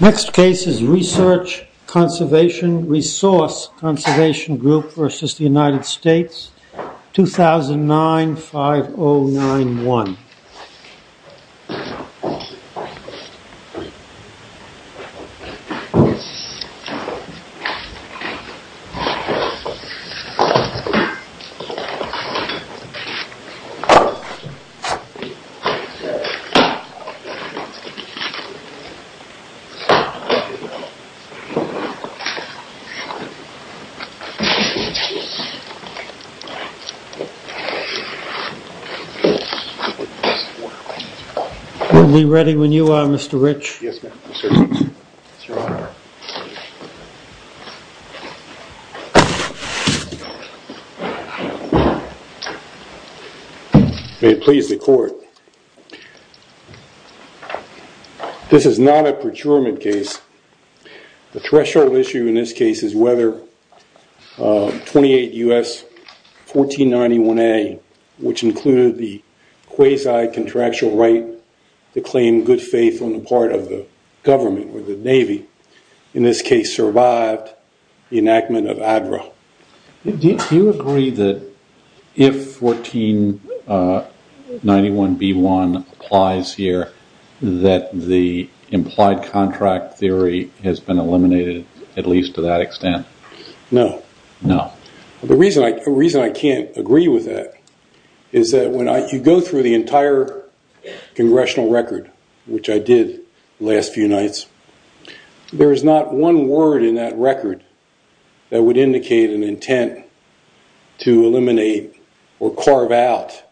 Next case is Research Conservation, Resource Conservation Group v. The United States, 2009-5091. Are we ready when you are, Mr. Rich? Yes, sir. May it please the court. This is not a procurement case. The threshold issue in this case is whether 28 U.S. 1491A, which included the quasi-contractual right to claim good faith on the part of the government or the Navy, in this case survived the enactment of ADRA. Do you agree that if 1491B1 applies here, that the implied contract theory has been eliminated, at least to that extent? No. No. The reason I can't agree with that is that when you go through the entire congressional record, which I did the last few nights, there is not one word in that record that would indicate an intent to eliminate or carve out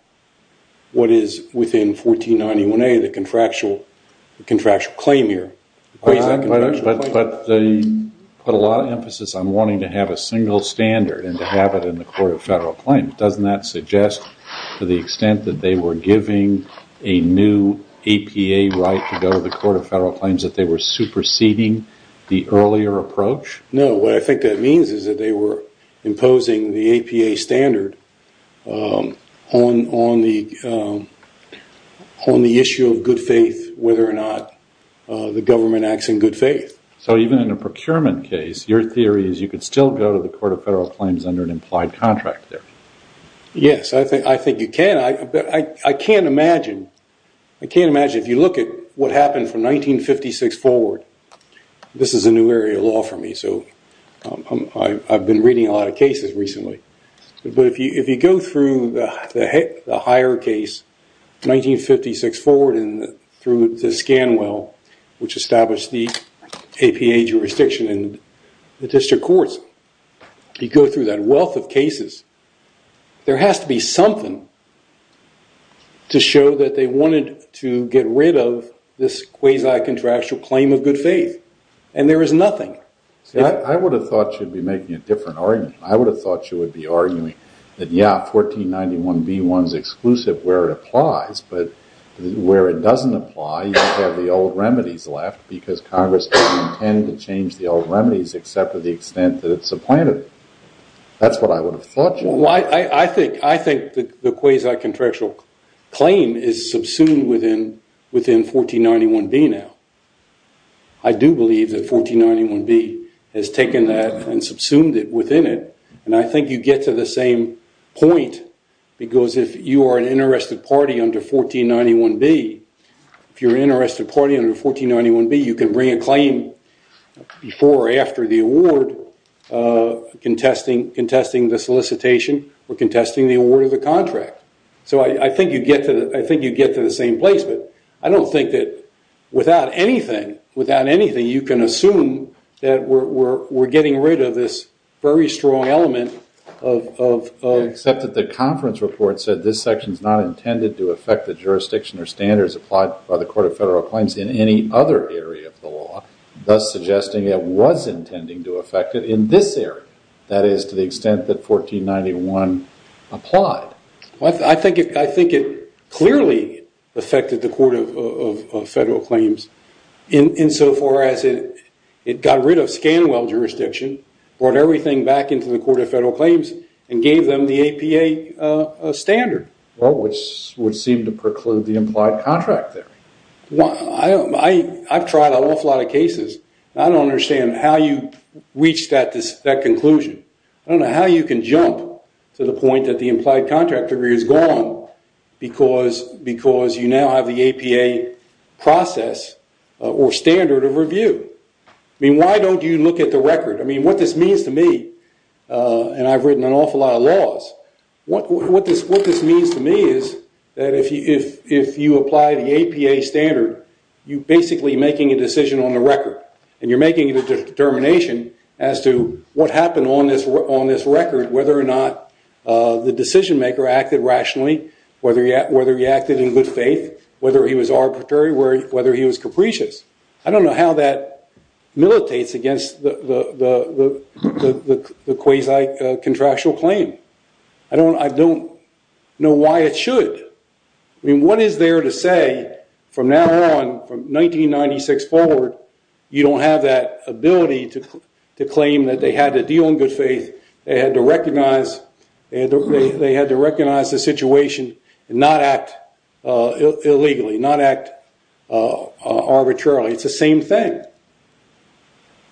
what is within 1491A, the contractual claim here. But a lot of emphasis on wanting to have a single standard and to have it in the Court of Federal Claims. Doesn't that suggest, to the extent that they were giving a new APA right to go to the Court of Federal Claims, that they were superseding the earlier approach? No. What I think that means is that they were imposing the APA standard on the issue of good faith, whether or not the government acts in good faith. So even in a procurement case, your theory is you could still go to the Court of Federal Claims under an implied contract theory? Yes, I think you can. I can't imagine if you look at what happened from 1956 forward. This is a new area of law for me, so I've been reading a lot of cases recently. But if you go through the higher case, 1956 forward and through the Scanwell, which established the APA jurisdiction in the district courts, you go through that wealth of cases, there has to be something to show that they wanted to get rid of this quasi-contractual claim of good faith. And there is nothing. I would have thought you'd be making a different argument. I would have thought you would be arguing that, yeah, 1491b1 is exclusive where it applies, but where it doesn't apply, you have the old remedies left because Congress didn't intend to change the old remedies except to the extent that it's supplanted. That's what I would have thought, John. I think the quasi-contractual claim is subsumed within 1491b now. I do believe that 1491b has taken that and subsumed it within it, and I think you get to the same point because if you are an interested party under 1491b, you can bring a claim before or after the award, contesting the solicitation or contesting the award of the contract. So I think you get to the same place, but I don't think that without anything you can assume that we're getting rid of this very strong element of- That is, to the extent that 1491 applied. I think it clearly affected the Court of Federal Claims insofar as it got rid of Scanwell jurisdiction, brought everything back into the Court of Federal Claims, and gave them the APA standard. Well, which would seem to preclude the implied contract there. I've tried an awful lot of cases, and I don't understand how you reach that conclusion. I don't know how you can jump to the point that the implied contract degree is gone because you now have the APA process or standard of review. I mean, why don't you look at the record? I mean, what this means to me, and I've written an awful lot of laws, what this means to me is that if you apply the APA standard, you're basically making a decision on the record. And you're making a determination as to what happened on this record, whether or not the decision maker acted rationally, whether he acted in good faith, whether he was arbitrary, whether he was capricious. I don't know how that militates against the quasi-contractual claim. I don't know why it should. I mean, what is there to say from now on, from 1996 forward, you don't have that ability to claim that they had to deal in good faith, they had to recognize the situation and not act illegally, not act arbitrarily. It's the same thing.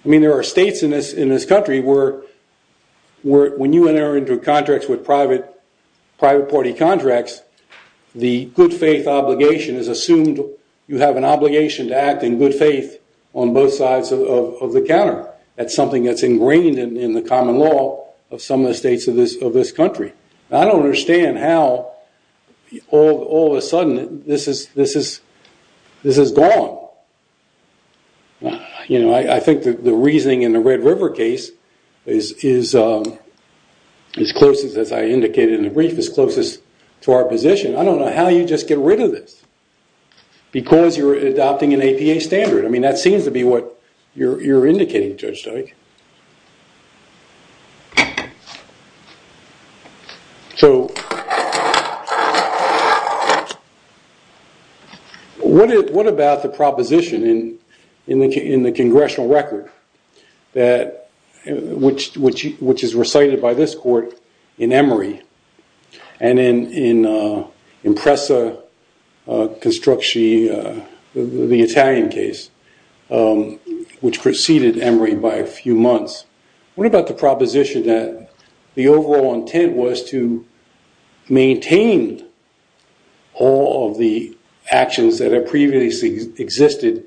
I mean, there are states in this country where when you enter into contracts with private party contracts, the good faith obligation is assumed you have an obligation to act in good faith on both sides of the counter. That's something that's ingrained in the common law of some of the states of this country. I don't understand how, all of a sudden, this is gone. I think the reasoning in the Red River case is closest, as I indicated in the brief, is closest to our position. I don't know how you just get rid of this because you're adopting an APA standard. I mean, that seems to be what you're indicating, Judge Dyke. What about the proposition in the congressional record, which is recited by this court in Emory and in Impresa Construcci, the Italian case, which preceded Emory by a few months? What about the proposition that the overall intent was to maintain all of the actions that have previously existed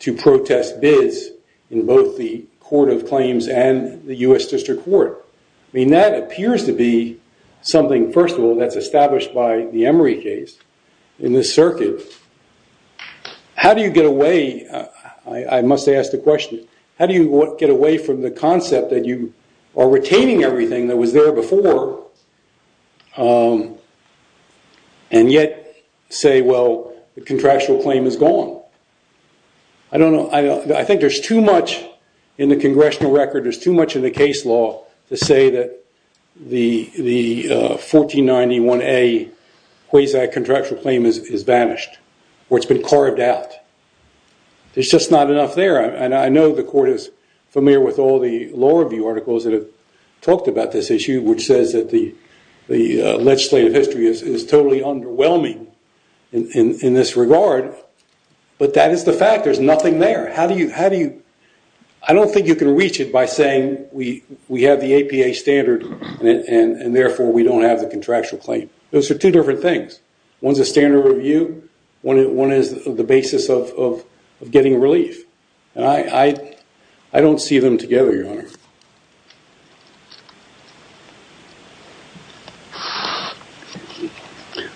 to protest bids in both the Court of Claims and the U.S. District Court? I mean, that appears to be something, first of all, that's established by the Emory case in this circuit. How do you get away, I must ask the question, how do you get away from the concept that you are retaining everything that was there before and yet say, well, the contractual claim is gone? I don't know. I think there's too much in the congressional record, there's too much in the case law to say that the 1491A quasi-contractual claim is banished, or it's been carved out. There's just not enough there, and I know the court is familiar with all the law review articles that have talked about this issue, which says that the legislative history is totally underwhelming in this regard, but that is the fact. There's nothing there. I don't think you can reach it by saying we have the APA standard and therefore we don't have the contractual claim. Those are two different things. One's a standard review, one is the basis of getting relief. I don't see them together, Your Honor.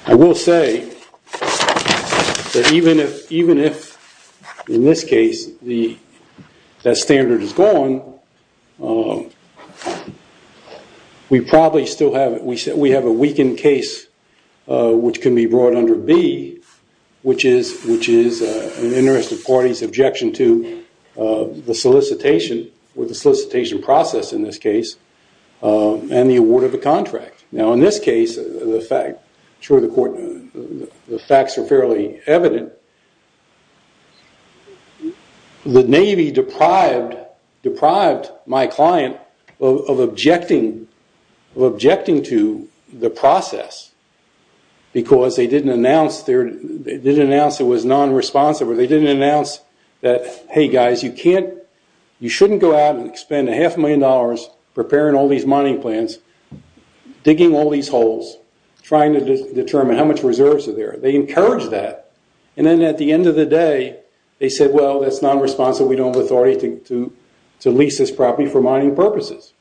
I will say that even if, in this case, that standard is gone, we probably still have a weakened case which can be brought under B, which is an interest of parties' objection to the solicitation, or the solicitation process in this case, and the award of the contract. Now in this case, the facts are fairly evident. The Navy deprived my client of objecting to the process because they didn't announce it was non-responsive, or they didn't announce that, hey guys, you shouldn't go out and spend a half million dollars preparing all these mining plans, digging all these holes, trying to determine how much reserves are there. They encouraged that, and then at the end of the day, they said, well, that's non-responsive, we don't have authority to lease this property for mining purposes.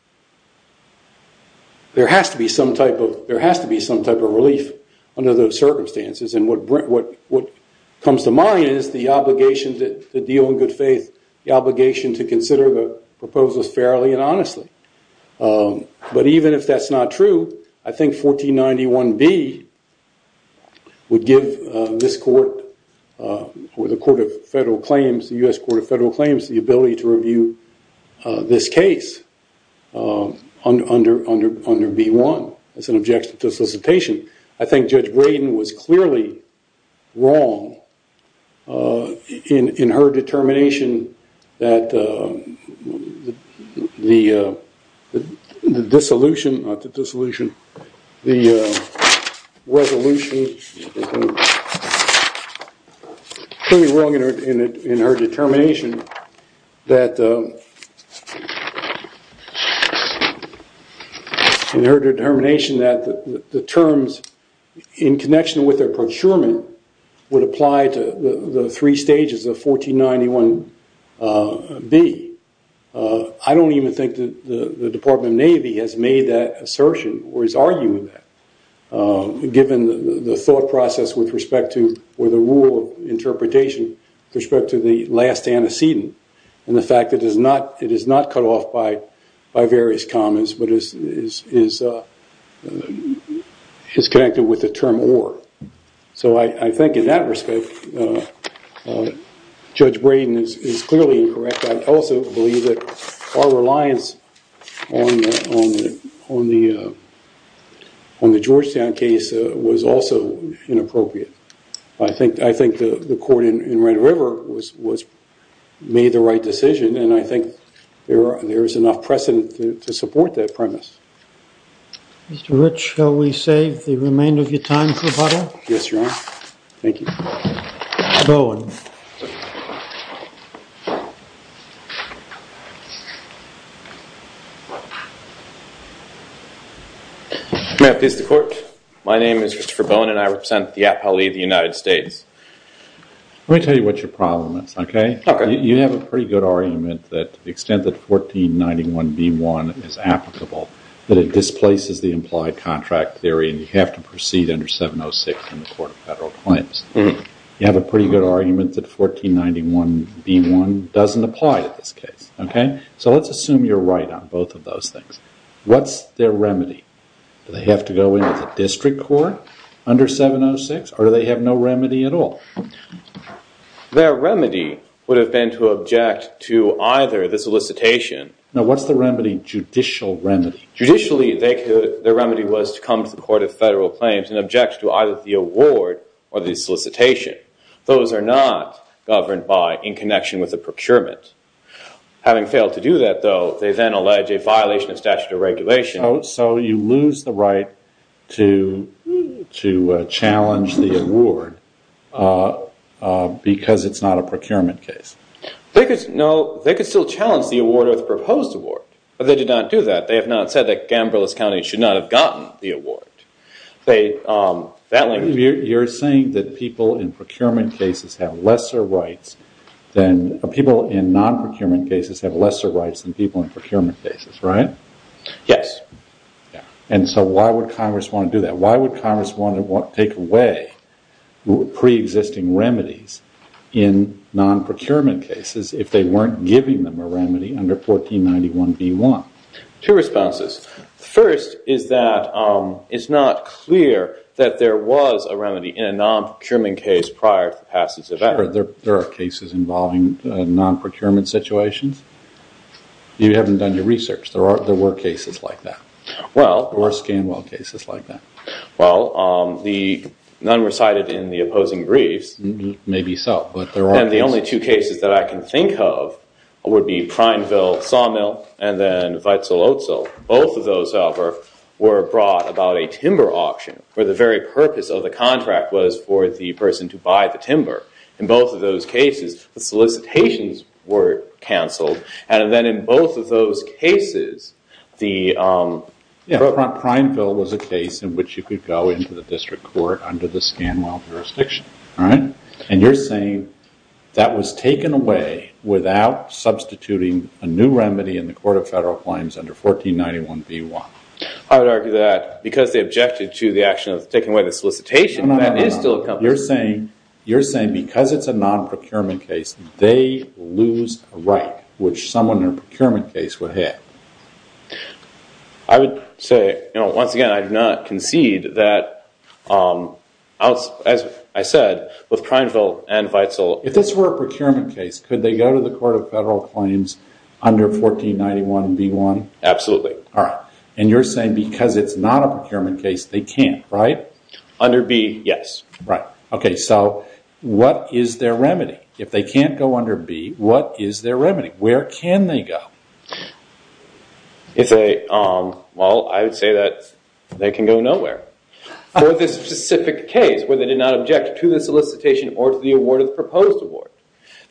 There has to be some type of relief under those circumstances, and what comes to mind is the obligation to deal in good faith, the obligation to consider the proposals fairly and honestly. But even if that's not true, I think 1491B would give this court, or the U.S. Court of Federal Claims, the ability to review this case under B1 as an objection to solicitation. I think Judge Braden was clearly wrong in her determination that the resolution, was clearly wrong in her determination that the terms in connection with her procurement would apply to the three stages of 1491B. I don't even think the Department of Navy has made that assertion or is arguing that, given the thought process with respect to, or the rule of interpretation with respect to the last antecedent, and the fact that it is not cut off by various comments, but is connected with the term or. So I think in that respect, Judge Braden is clearly incorrect. I also believe that our reliance on the Georgetown case was also inappropriate. I think the court in Red River made the right decision, and I think there is enough precedent to support that premise. Mr. Rich, shall we save the remainder of your time for butter? Yes, Your Honor. Thank you. Mr. Bowen. May I please the court? My name is Mr. Bowen, and I represent the Appellee of the United States. Let me tell you what your problem is, okay? Okay. You have a pretty good argument that the extent that 1491B1 is applicable, that it displaces the implied contract theory and you have to proceed under 706 in the Court of Federal Claims. You have a pretty good argument that 1491B1 doesn't apply in this case, okay? So let's assume you're right on both of those things. What's their remedy? Do they have to go into the district court under 706, or do they have no remedy at all? Their remedy would have been to object to either the solicitation. Now, what's the remedy, judicial remedy? Judicially, their remedy was to come to the Court of Federal Claims and object to either the award or the solicitation. Those are not governed by in connection with the procurement. Having failed to do that, though, they then allege a violation of statute of regulations. So you lose the right to challenge the award because it's not a procurement case. They could still challenge the award or the proposed award, but they did not do that. They have not said that Gamberlous County should not have gotten the award. You're saying that people in non-procurement cases have lesser rights than people in procurement cases, right? Yes. And so why would Congress want to do that? Pre-existing remedies in non-procurement cases if they weren't giving them a remedy under 1491B1. Two responses. First is that it's not clear that there was a remedy in a non-procurement case prior to the passage of Act. Sure, there are cases involving non-procurement situations. You haven't done your research. There were cases like that. There were Scanwell cases like that. Well, none were cited in the opposing briefs. Maybe so, but there are cases. And the only two cases that I can think of would be Prineville Sawmill and then Wetzel-Otzel. Both of those were brought about a timber auction where the very purpose of the contract was for the person to buy the timber. In both of those cases, the solicitations were canceled. And then in both of those cases, the- Yeah, Prineville was a case in which you could go into the district court under the Scanwell jurisdiction. And you're saying that was taken away without substituting a new remedy in the Court of Federal Claims under 1491B1. I would argue that because they objected to the action of taking away the solicitation, that is still- You're saying because it's a non-procurement case, they lose a right, which someone in a procurement case would have. I would say, once again, I do not concede that, as I said, with Prineville and Wetzel- If this were a procurement case, could they go to the Court of Federal Claims under 1491B1? Absolutely. All right. And you're saying because it's not a procurement case, they can't, right? Under B, yes. Right. Okay, so what is their remedy? If they can't go under B, what is their remedy? Where can they go? Well, I would say that they can go nowhere. For this specific case, where they did not object to the solicitation or to the award of the proposed award,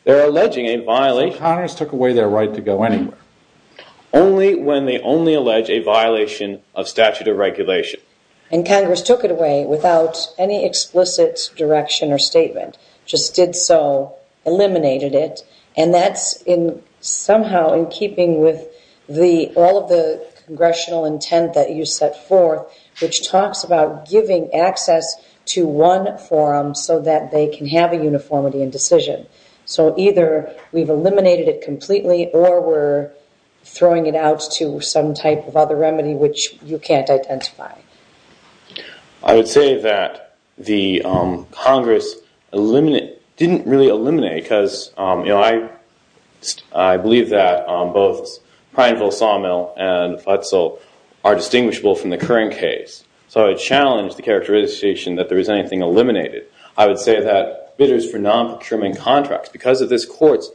they're alleging a violation- So Congress took away their right to go anywhere. Only when they only allege a violation of statute of regulation. And Congress took it away without any explicit direction or statement. Just did so, eliminated it, and that's somehow in keeping with all of the congressional intent that you set forth, which talks about giving access to one forum so that they can have a uniformity in decision. So either we've eliminated it completely or we're throwing it out to some type of other remedy which you can't identify. I would say that Congress didn't really eliminate because I believe that both Prineville-Sawmill and Futsal are distinguishable from the current case. So I challenge the characterization that there is anything eliminated. I would say that bidders for non-procurement contracts, because of this court's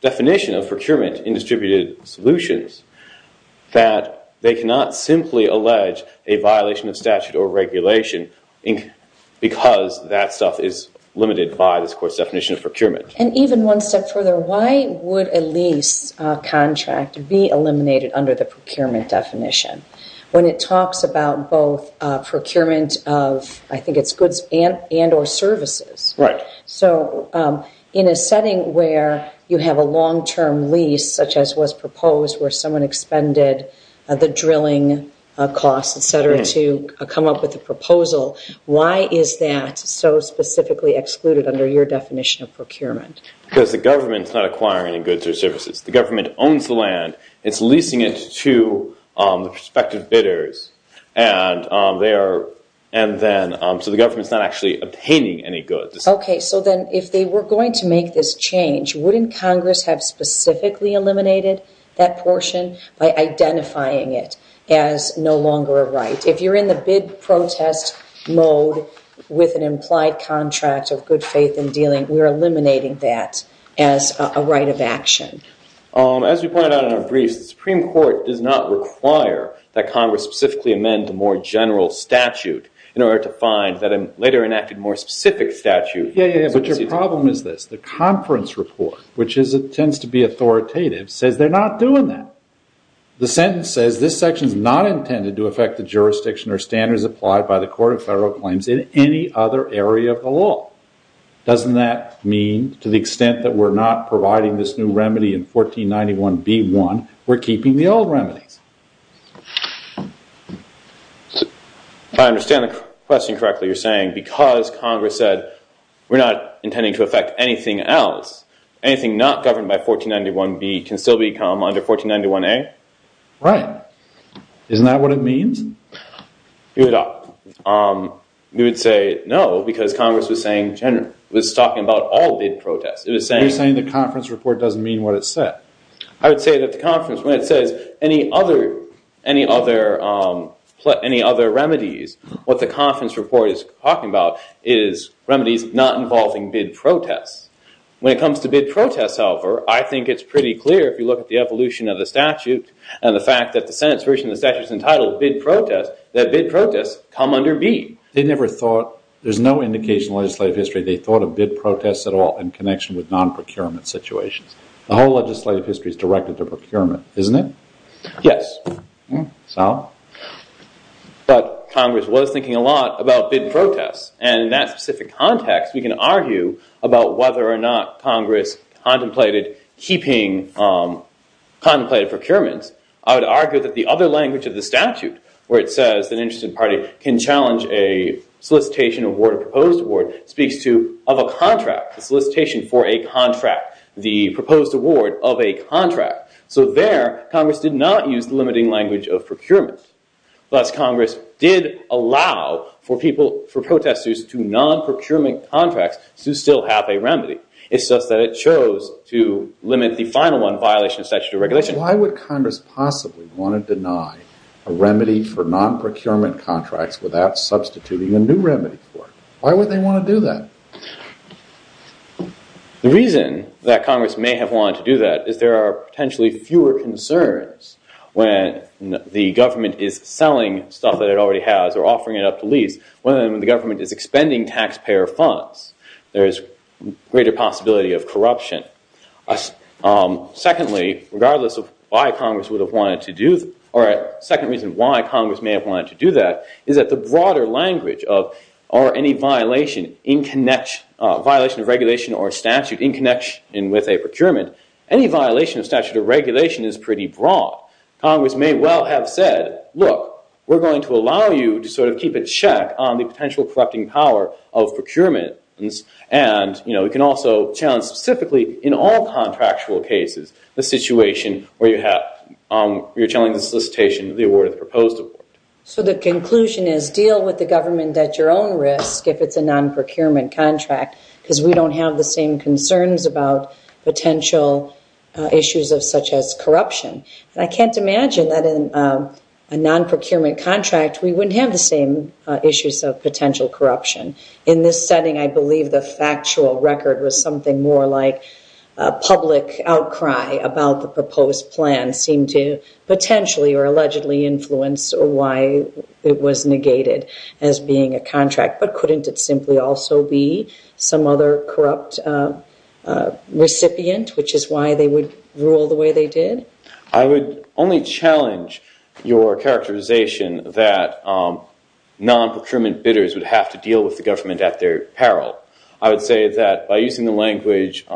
definition of procurement in distributed solutions, that they cannot simply allege a violation of statute or regulation because that stuff is limited by this court's definition of procurement. And even one step further, why would a lease contract be eliminated under the procurement definition? When it talks about both procurement of, I think it's goods and or services. Right. So in a setting where you have a long-term lease such as was proposed where someone expended the drilling costs, etc., to come up with a proposal, why is that so specifically excluded under your definition of procurement? Because the government's not acquiring any goods or services. The government owns the land. It's leasing it to the prospective bidders. So the government's not actually obtaining any goods. Okay. So then if they were going to make this change, wouldn't Congress have specifically eliminated that portion by identifying it as no longer a right? If you're in the bid protest mode with an implied contract of good faith in dealing, we're eliminating that as a right of action. As you pointed out in our briefs, the Supreme Court does not require that Congress specifically amend the more general statute in order to find that a later enacted more specific statute. Yeah, yeah, yeah. But your problem is this. The conference report, which tends to be authoritative, says they're not doing that. The sentence says this section is not intended to affect the jurisdiction or standards applied by the Court of Federal Claims in any other area of the law. Doesn't that mean to the extent that we're not providing this new remedy in 1491B1, we're keeping the old remedies? I understand the question correctly. You're saying because Congress said we're not intending to affect anything else, anything not governed by 1491B can still become under 1491A? Right. Isn't that what it means? You would say no because Congress was talking about all bid protests. You're saying the conference report doesn't mean what it said. I would say that the conference, when it says any other remedies, what the conference report is talking about is remedies not involving bid protests. When it comes to bid protests, however, I think it's pretty clear if you look at the evolution of the statute and the fact that the Senate's version of the statute is entitled bid protests, that bid protests come under B. They never thought, there's no indication in legislative history, they thought of bid protests at all in connection with non-procurement situations. The whole legislative history is directed to procurement, isn't it? Yes. So? But Congress was thinking a lot about bid protests. And in that specific context, we can argue about whether or not Congress contemplated keeping contemplated procurements. I would argue that the other language of the statute, where it says an interested party can challenge a solicitation award, a proposed award, speaks to of a contract, a solicitation for a contract, the proposed award of a contract. So there, Congress did not use the limiting language of procurement. Thus, Congress did allow for protestors to non-procurement contracts to still have a remedy. It's just that it chose to limit the final one, violation of statutory regulation. Why would Congress possibly want to deny a remedy for non-procurement contracts without substituting a new remedy for it? Why would they want to do that? The reason that Congress may have wanted to do that is there are potentially fewer concerns when the government is selling stuff that it already has or offering it up to lease when the government is expending taxpayer funds. There is a greater possibility of corruption. Secondly, regardless of why Congress may have wanted to do that, is that the broader language of any violation of regulation or statute in connection with a procurement, any violation of statutory regulation is pretty broad. Congress may well have said, look, we're going to allow you to sort of keep a check on the potential corrupting power of procurements. And, you know, you can also challenge specifically in all contractual cases the situation where you're challenging the solicitation of the award of the proposed award. So the conclusion is deal with the government at your own risk if it's a non-procurement contract because we don't have the same concerns about potential issues such as corruption. And I can't imagine that in a non-procurement contract, we wouldn't have the same issues of potential corruption. In this setting, I believe the factual record was something more like a public outcry about the proposed plan seemed to potentially or allegedly influence why it was negated as being a contract. But couldn't it simply also be some other corrupt recipient, which is why they would rule the way they did? I would only challenge your characterization that non-procurement bidders would have to deal with the government at their peril. I would say that by using the language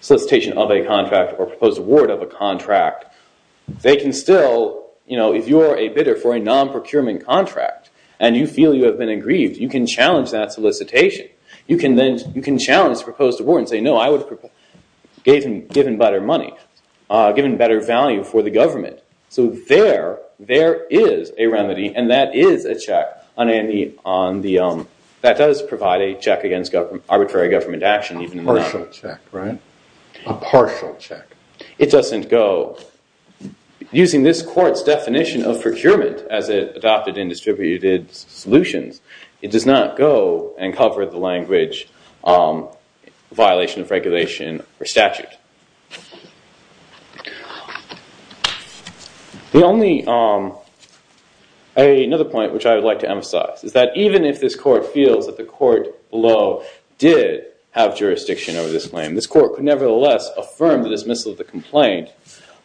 solicitation of a contract or proposed award of a contract, they can still, you know, if you are a bidder for a non-procurement contract and you feel you have been aggrieved, you can challenge that solicitation. You can then challenge the proposed award and say, no, I would have given better money, given better value for the government. So there, there is a remedy and that is a check on any, that does provide a check against arbitrary government action. A partial check, right? A partial check. It doesn't go. Using this court's definition of procurement as it adopted in distributed solutions, it does not go and cover the language violation of regulation or statute. The only, another point which I would like to emphasize is that even if this court feels that the court below did have jurisdiction over this claim, this court could nevertheless affirm the dismissal of the complaint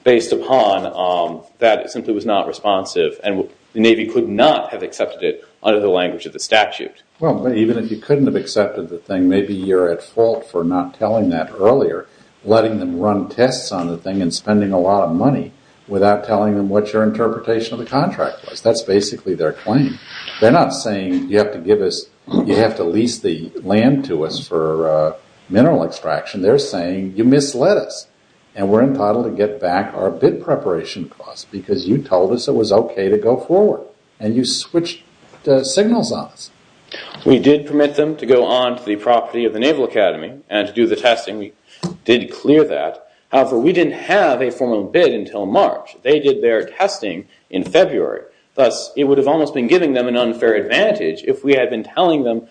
based upon that it simply was not responsive and the Navy could not have accepted it under the language of the statute. Well, even if you couldn't have accepted the thing, maybe you're at fault for not telling that earlier, letting them run tests on the thing and spending a lot of money without telling them what your interpretation of the contract was. That's basically their claim. They're not saying you have to give us, you have to lease the land to us for mineral extraction. They're saying you misled us and we're entitled to get back our bid preparation costs because you told us it was okay to go forward and you switched signals on us. We did permit them to go on to the property of the Naval Academy and to do the testing. We did clear that. However, we didn't have a formal bid until March. They did their testing in February. Thus, it would have almost been giving them an unfair advantage if we had been telling them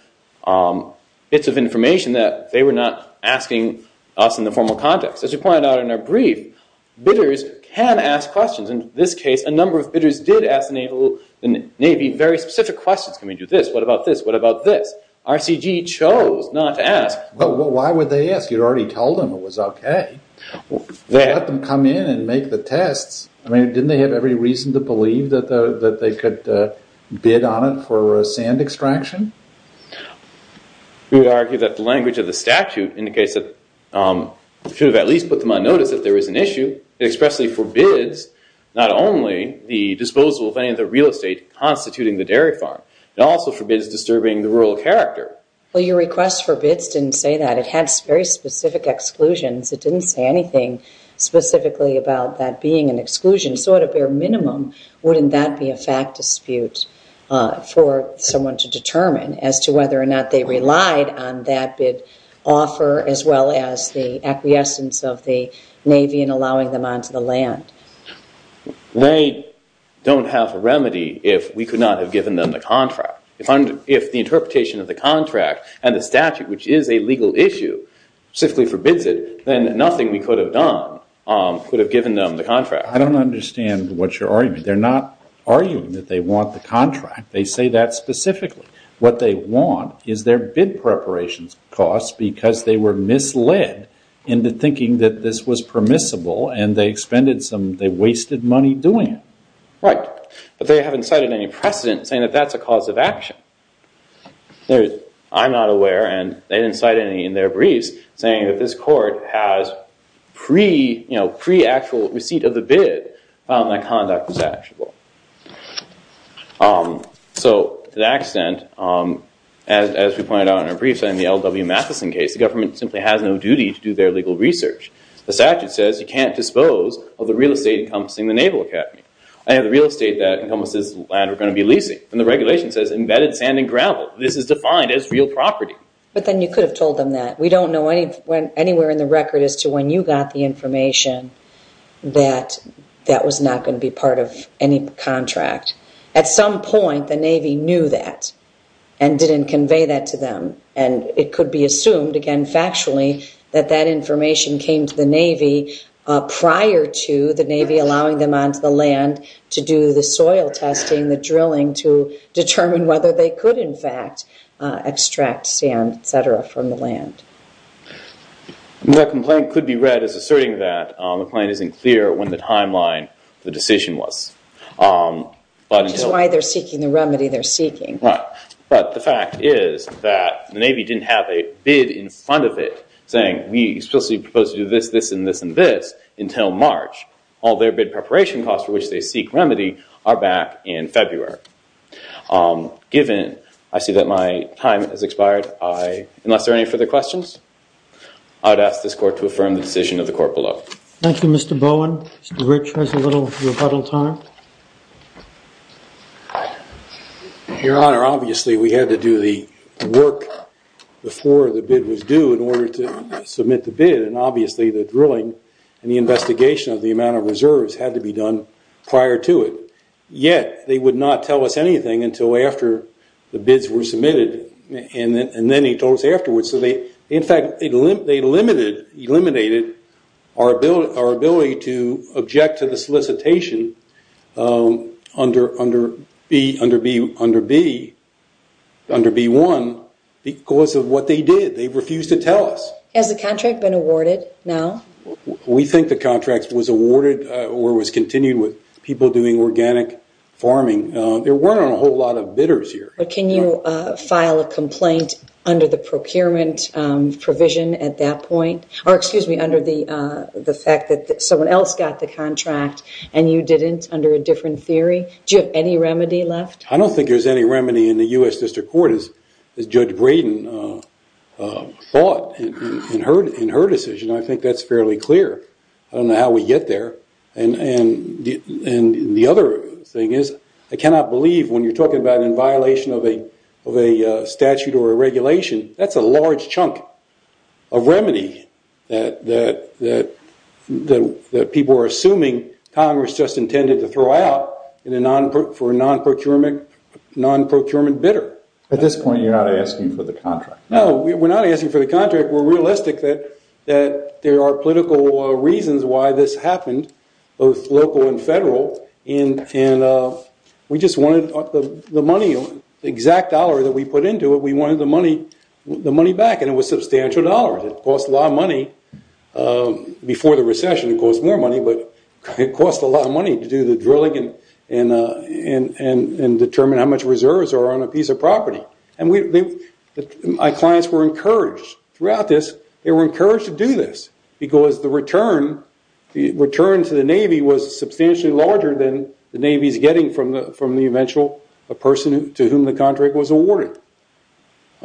bits of information that they were not asking us in the formal context. As you pointed out in our brief, bidders can ask questions. In this case, a number of bidders did ask the Navy very specific questions. Can we do this? What about this? What about this? RCG chose not to ask. But why would they ask? You already told them it was okay. You let them come in and make the tests. Didn't they have every reason to believe that they could bid on it for sand extraction? We would argue that the language of the statute indicates that we should have at least put them on notice that there is an issue. It expressly forbids not only the disposal of any of the real estate constituting the dairy farm. It also forbids disturbing the rural character. Well, your request for bids didn't say that. It had very specific exclusions. It didn't say anything specifically about that being an exclusion. Wouldn't that be a fact dispute for someone to determine as to whether or not they relied on that bid offer as well as the acquiescence of the Navy in allowing them onto the land? They don't have a remedy if we could not have given them the contract. If the interpretation of the contract and the statute, which is a legal issue, specifically forbids it, then nothing we could have done could have given them the contract. I don't understand what you're arguing. They're not arguing that they want the contract. They say that specifically. What they want is their bid preparation costs because they were misled into thinking that this was permissible and they wasted money doing it. Right, but they haven't cited any precedent saying that that's a cause of action. I'm not aware and they didn't cite any in their briefs saying that this court has pre-actual receipt of the bid that conduct was actionable. So to that extent, as we pointed out in our briefs in the L.W. Matheson case, the government simply has no duty to do their legal research. The statute says you can't dispose of the real estate encompassing the Naval Academy. I have the real estate that encompasses the land we're going to be leasing and the regulation says embedded sand and gravel. This is defined as real property. But then you could have told them that. We don't know anywhere in the record as to when you got the information that that was not going to be part of any contract. At some point the Navy knew that and didn't convey that to them and it could be assumed, again factually, that that information came to the Navy prior to the Navy allowing them onto the land to do the soil testing, the drilling to determine whether they could in fact extract sand, et cetera, from the land. That complaint could be read as asserting that the complaint isn't clear when the timeline for the decision was. Which is why they're seeking the remedy they're seeking. Right. But the fact is that the Navy didn't have a bid in front of it saying we explicitly propose to do this, this, and this, and this until March. All their bid preparation costs for which they seek remedy are back in February. Given I see that my time has expired, unless there are any further questions, I would ask this court to affirm the decision of the court below. Thank you, Mr. Bowen. Mr. Rich has a little rebuttal time. Your Honor, obviously we had to do the work before the bid was due in order to submit the bid and obviously the drilling and the investigation of the amount of reserves had to be done prior to it. Yet, they would not tell us anything until after the bids were submitted and then he told us afterwards. In fact, they eliminated our ability to object to the solicitation under B1 because of what they did. They refused to tell us. Has the contract been awarded now? We think the contract was awarded or was continued with people doing organic farming. There weren't a whole lot of bidders here. But can you file a complaint under the procurement provision at that point? Or excuse me, under the fact that someone else got the contract and you didn't under a different theory? Do you have any remedy left? I don't think there's any remedy in the U.S. District Court as Judge Braden thought in her decision. I think that's fairly clear. I don't know how we get there. And the other thing is I cannot believe when you're talking about in violation of a statute or a regulation, that's a large chunk of remedy that people are assuming Congress just intended to throw out for a non-procurement bidder. At this point, you're not asking for the contract. No, we're not asking for the contract. We're realistic that there are political reasons why this happened, both local and federal. We just wanted the money, the exact dollar that we put into it, we wanted the money back. And it was substantial dollars. It cost a lot of money. Before the recession, it cost more money. But it cost a lot of money to do the drilling and determine how much reserves are on a piece of property. And my clients were encouraged throughout this. They were encouraged to do this because the return to the Navy was substantially larger than the Navy's getting from the eventual person to whom the contract was awarded.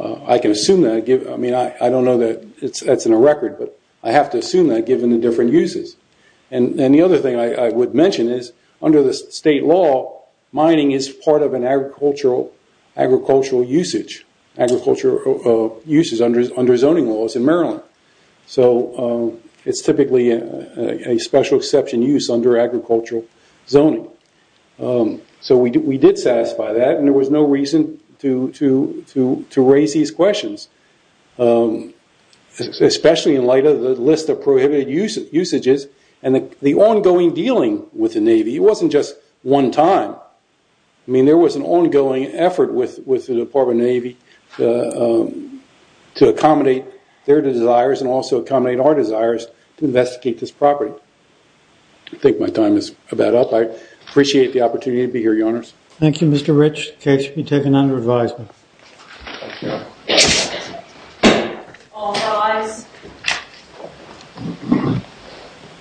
I can assume that. I don't know that that's in a record, but I have to assume that given the different uses. And the other thing I would mention is under the state law, mining is part of an agricultural usage. Agricultural uses under zoning laws in Maryland. So it's typically a special exception use under agricultural zoning. So we did satisfy that, and there was no reason to raise these questions. Especially in light of the list of prohibited usages and the ongoing dealing with the Navy. It wasn't just one time. I mean, there was an ongoing effort with the Department of Navy to accommodate their desires and also accommodate our desires to investigate this property. I think my time is about up. I appreciate the opportunity to be here, Your Honors. Thank you, Mr. Rich. The case will be taken under advisement. Thank you. All rise.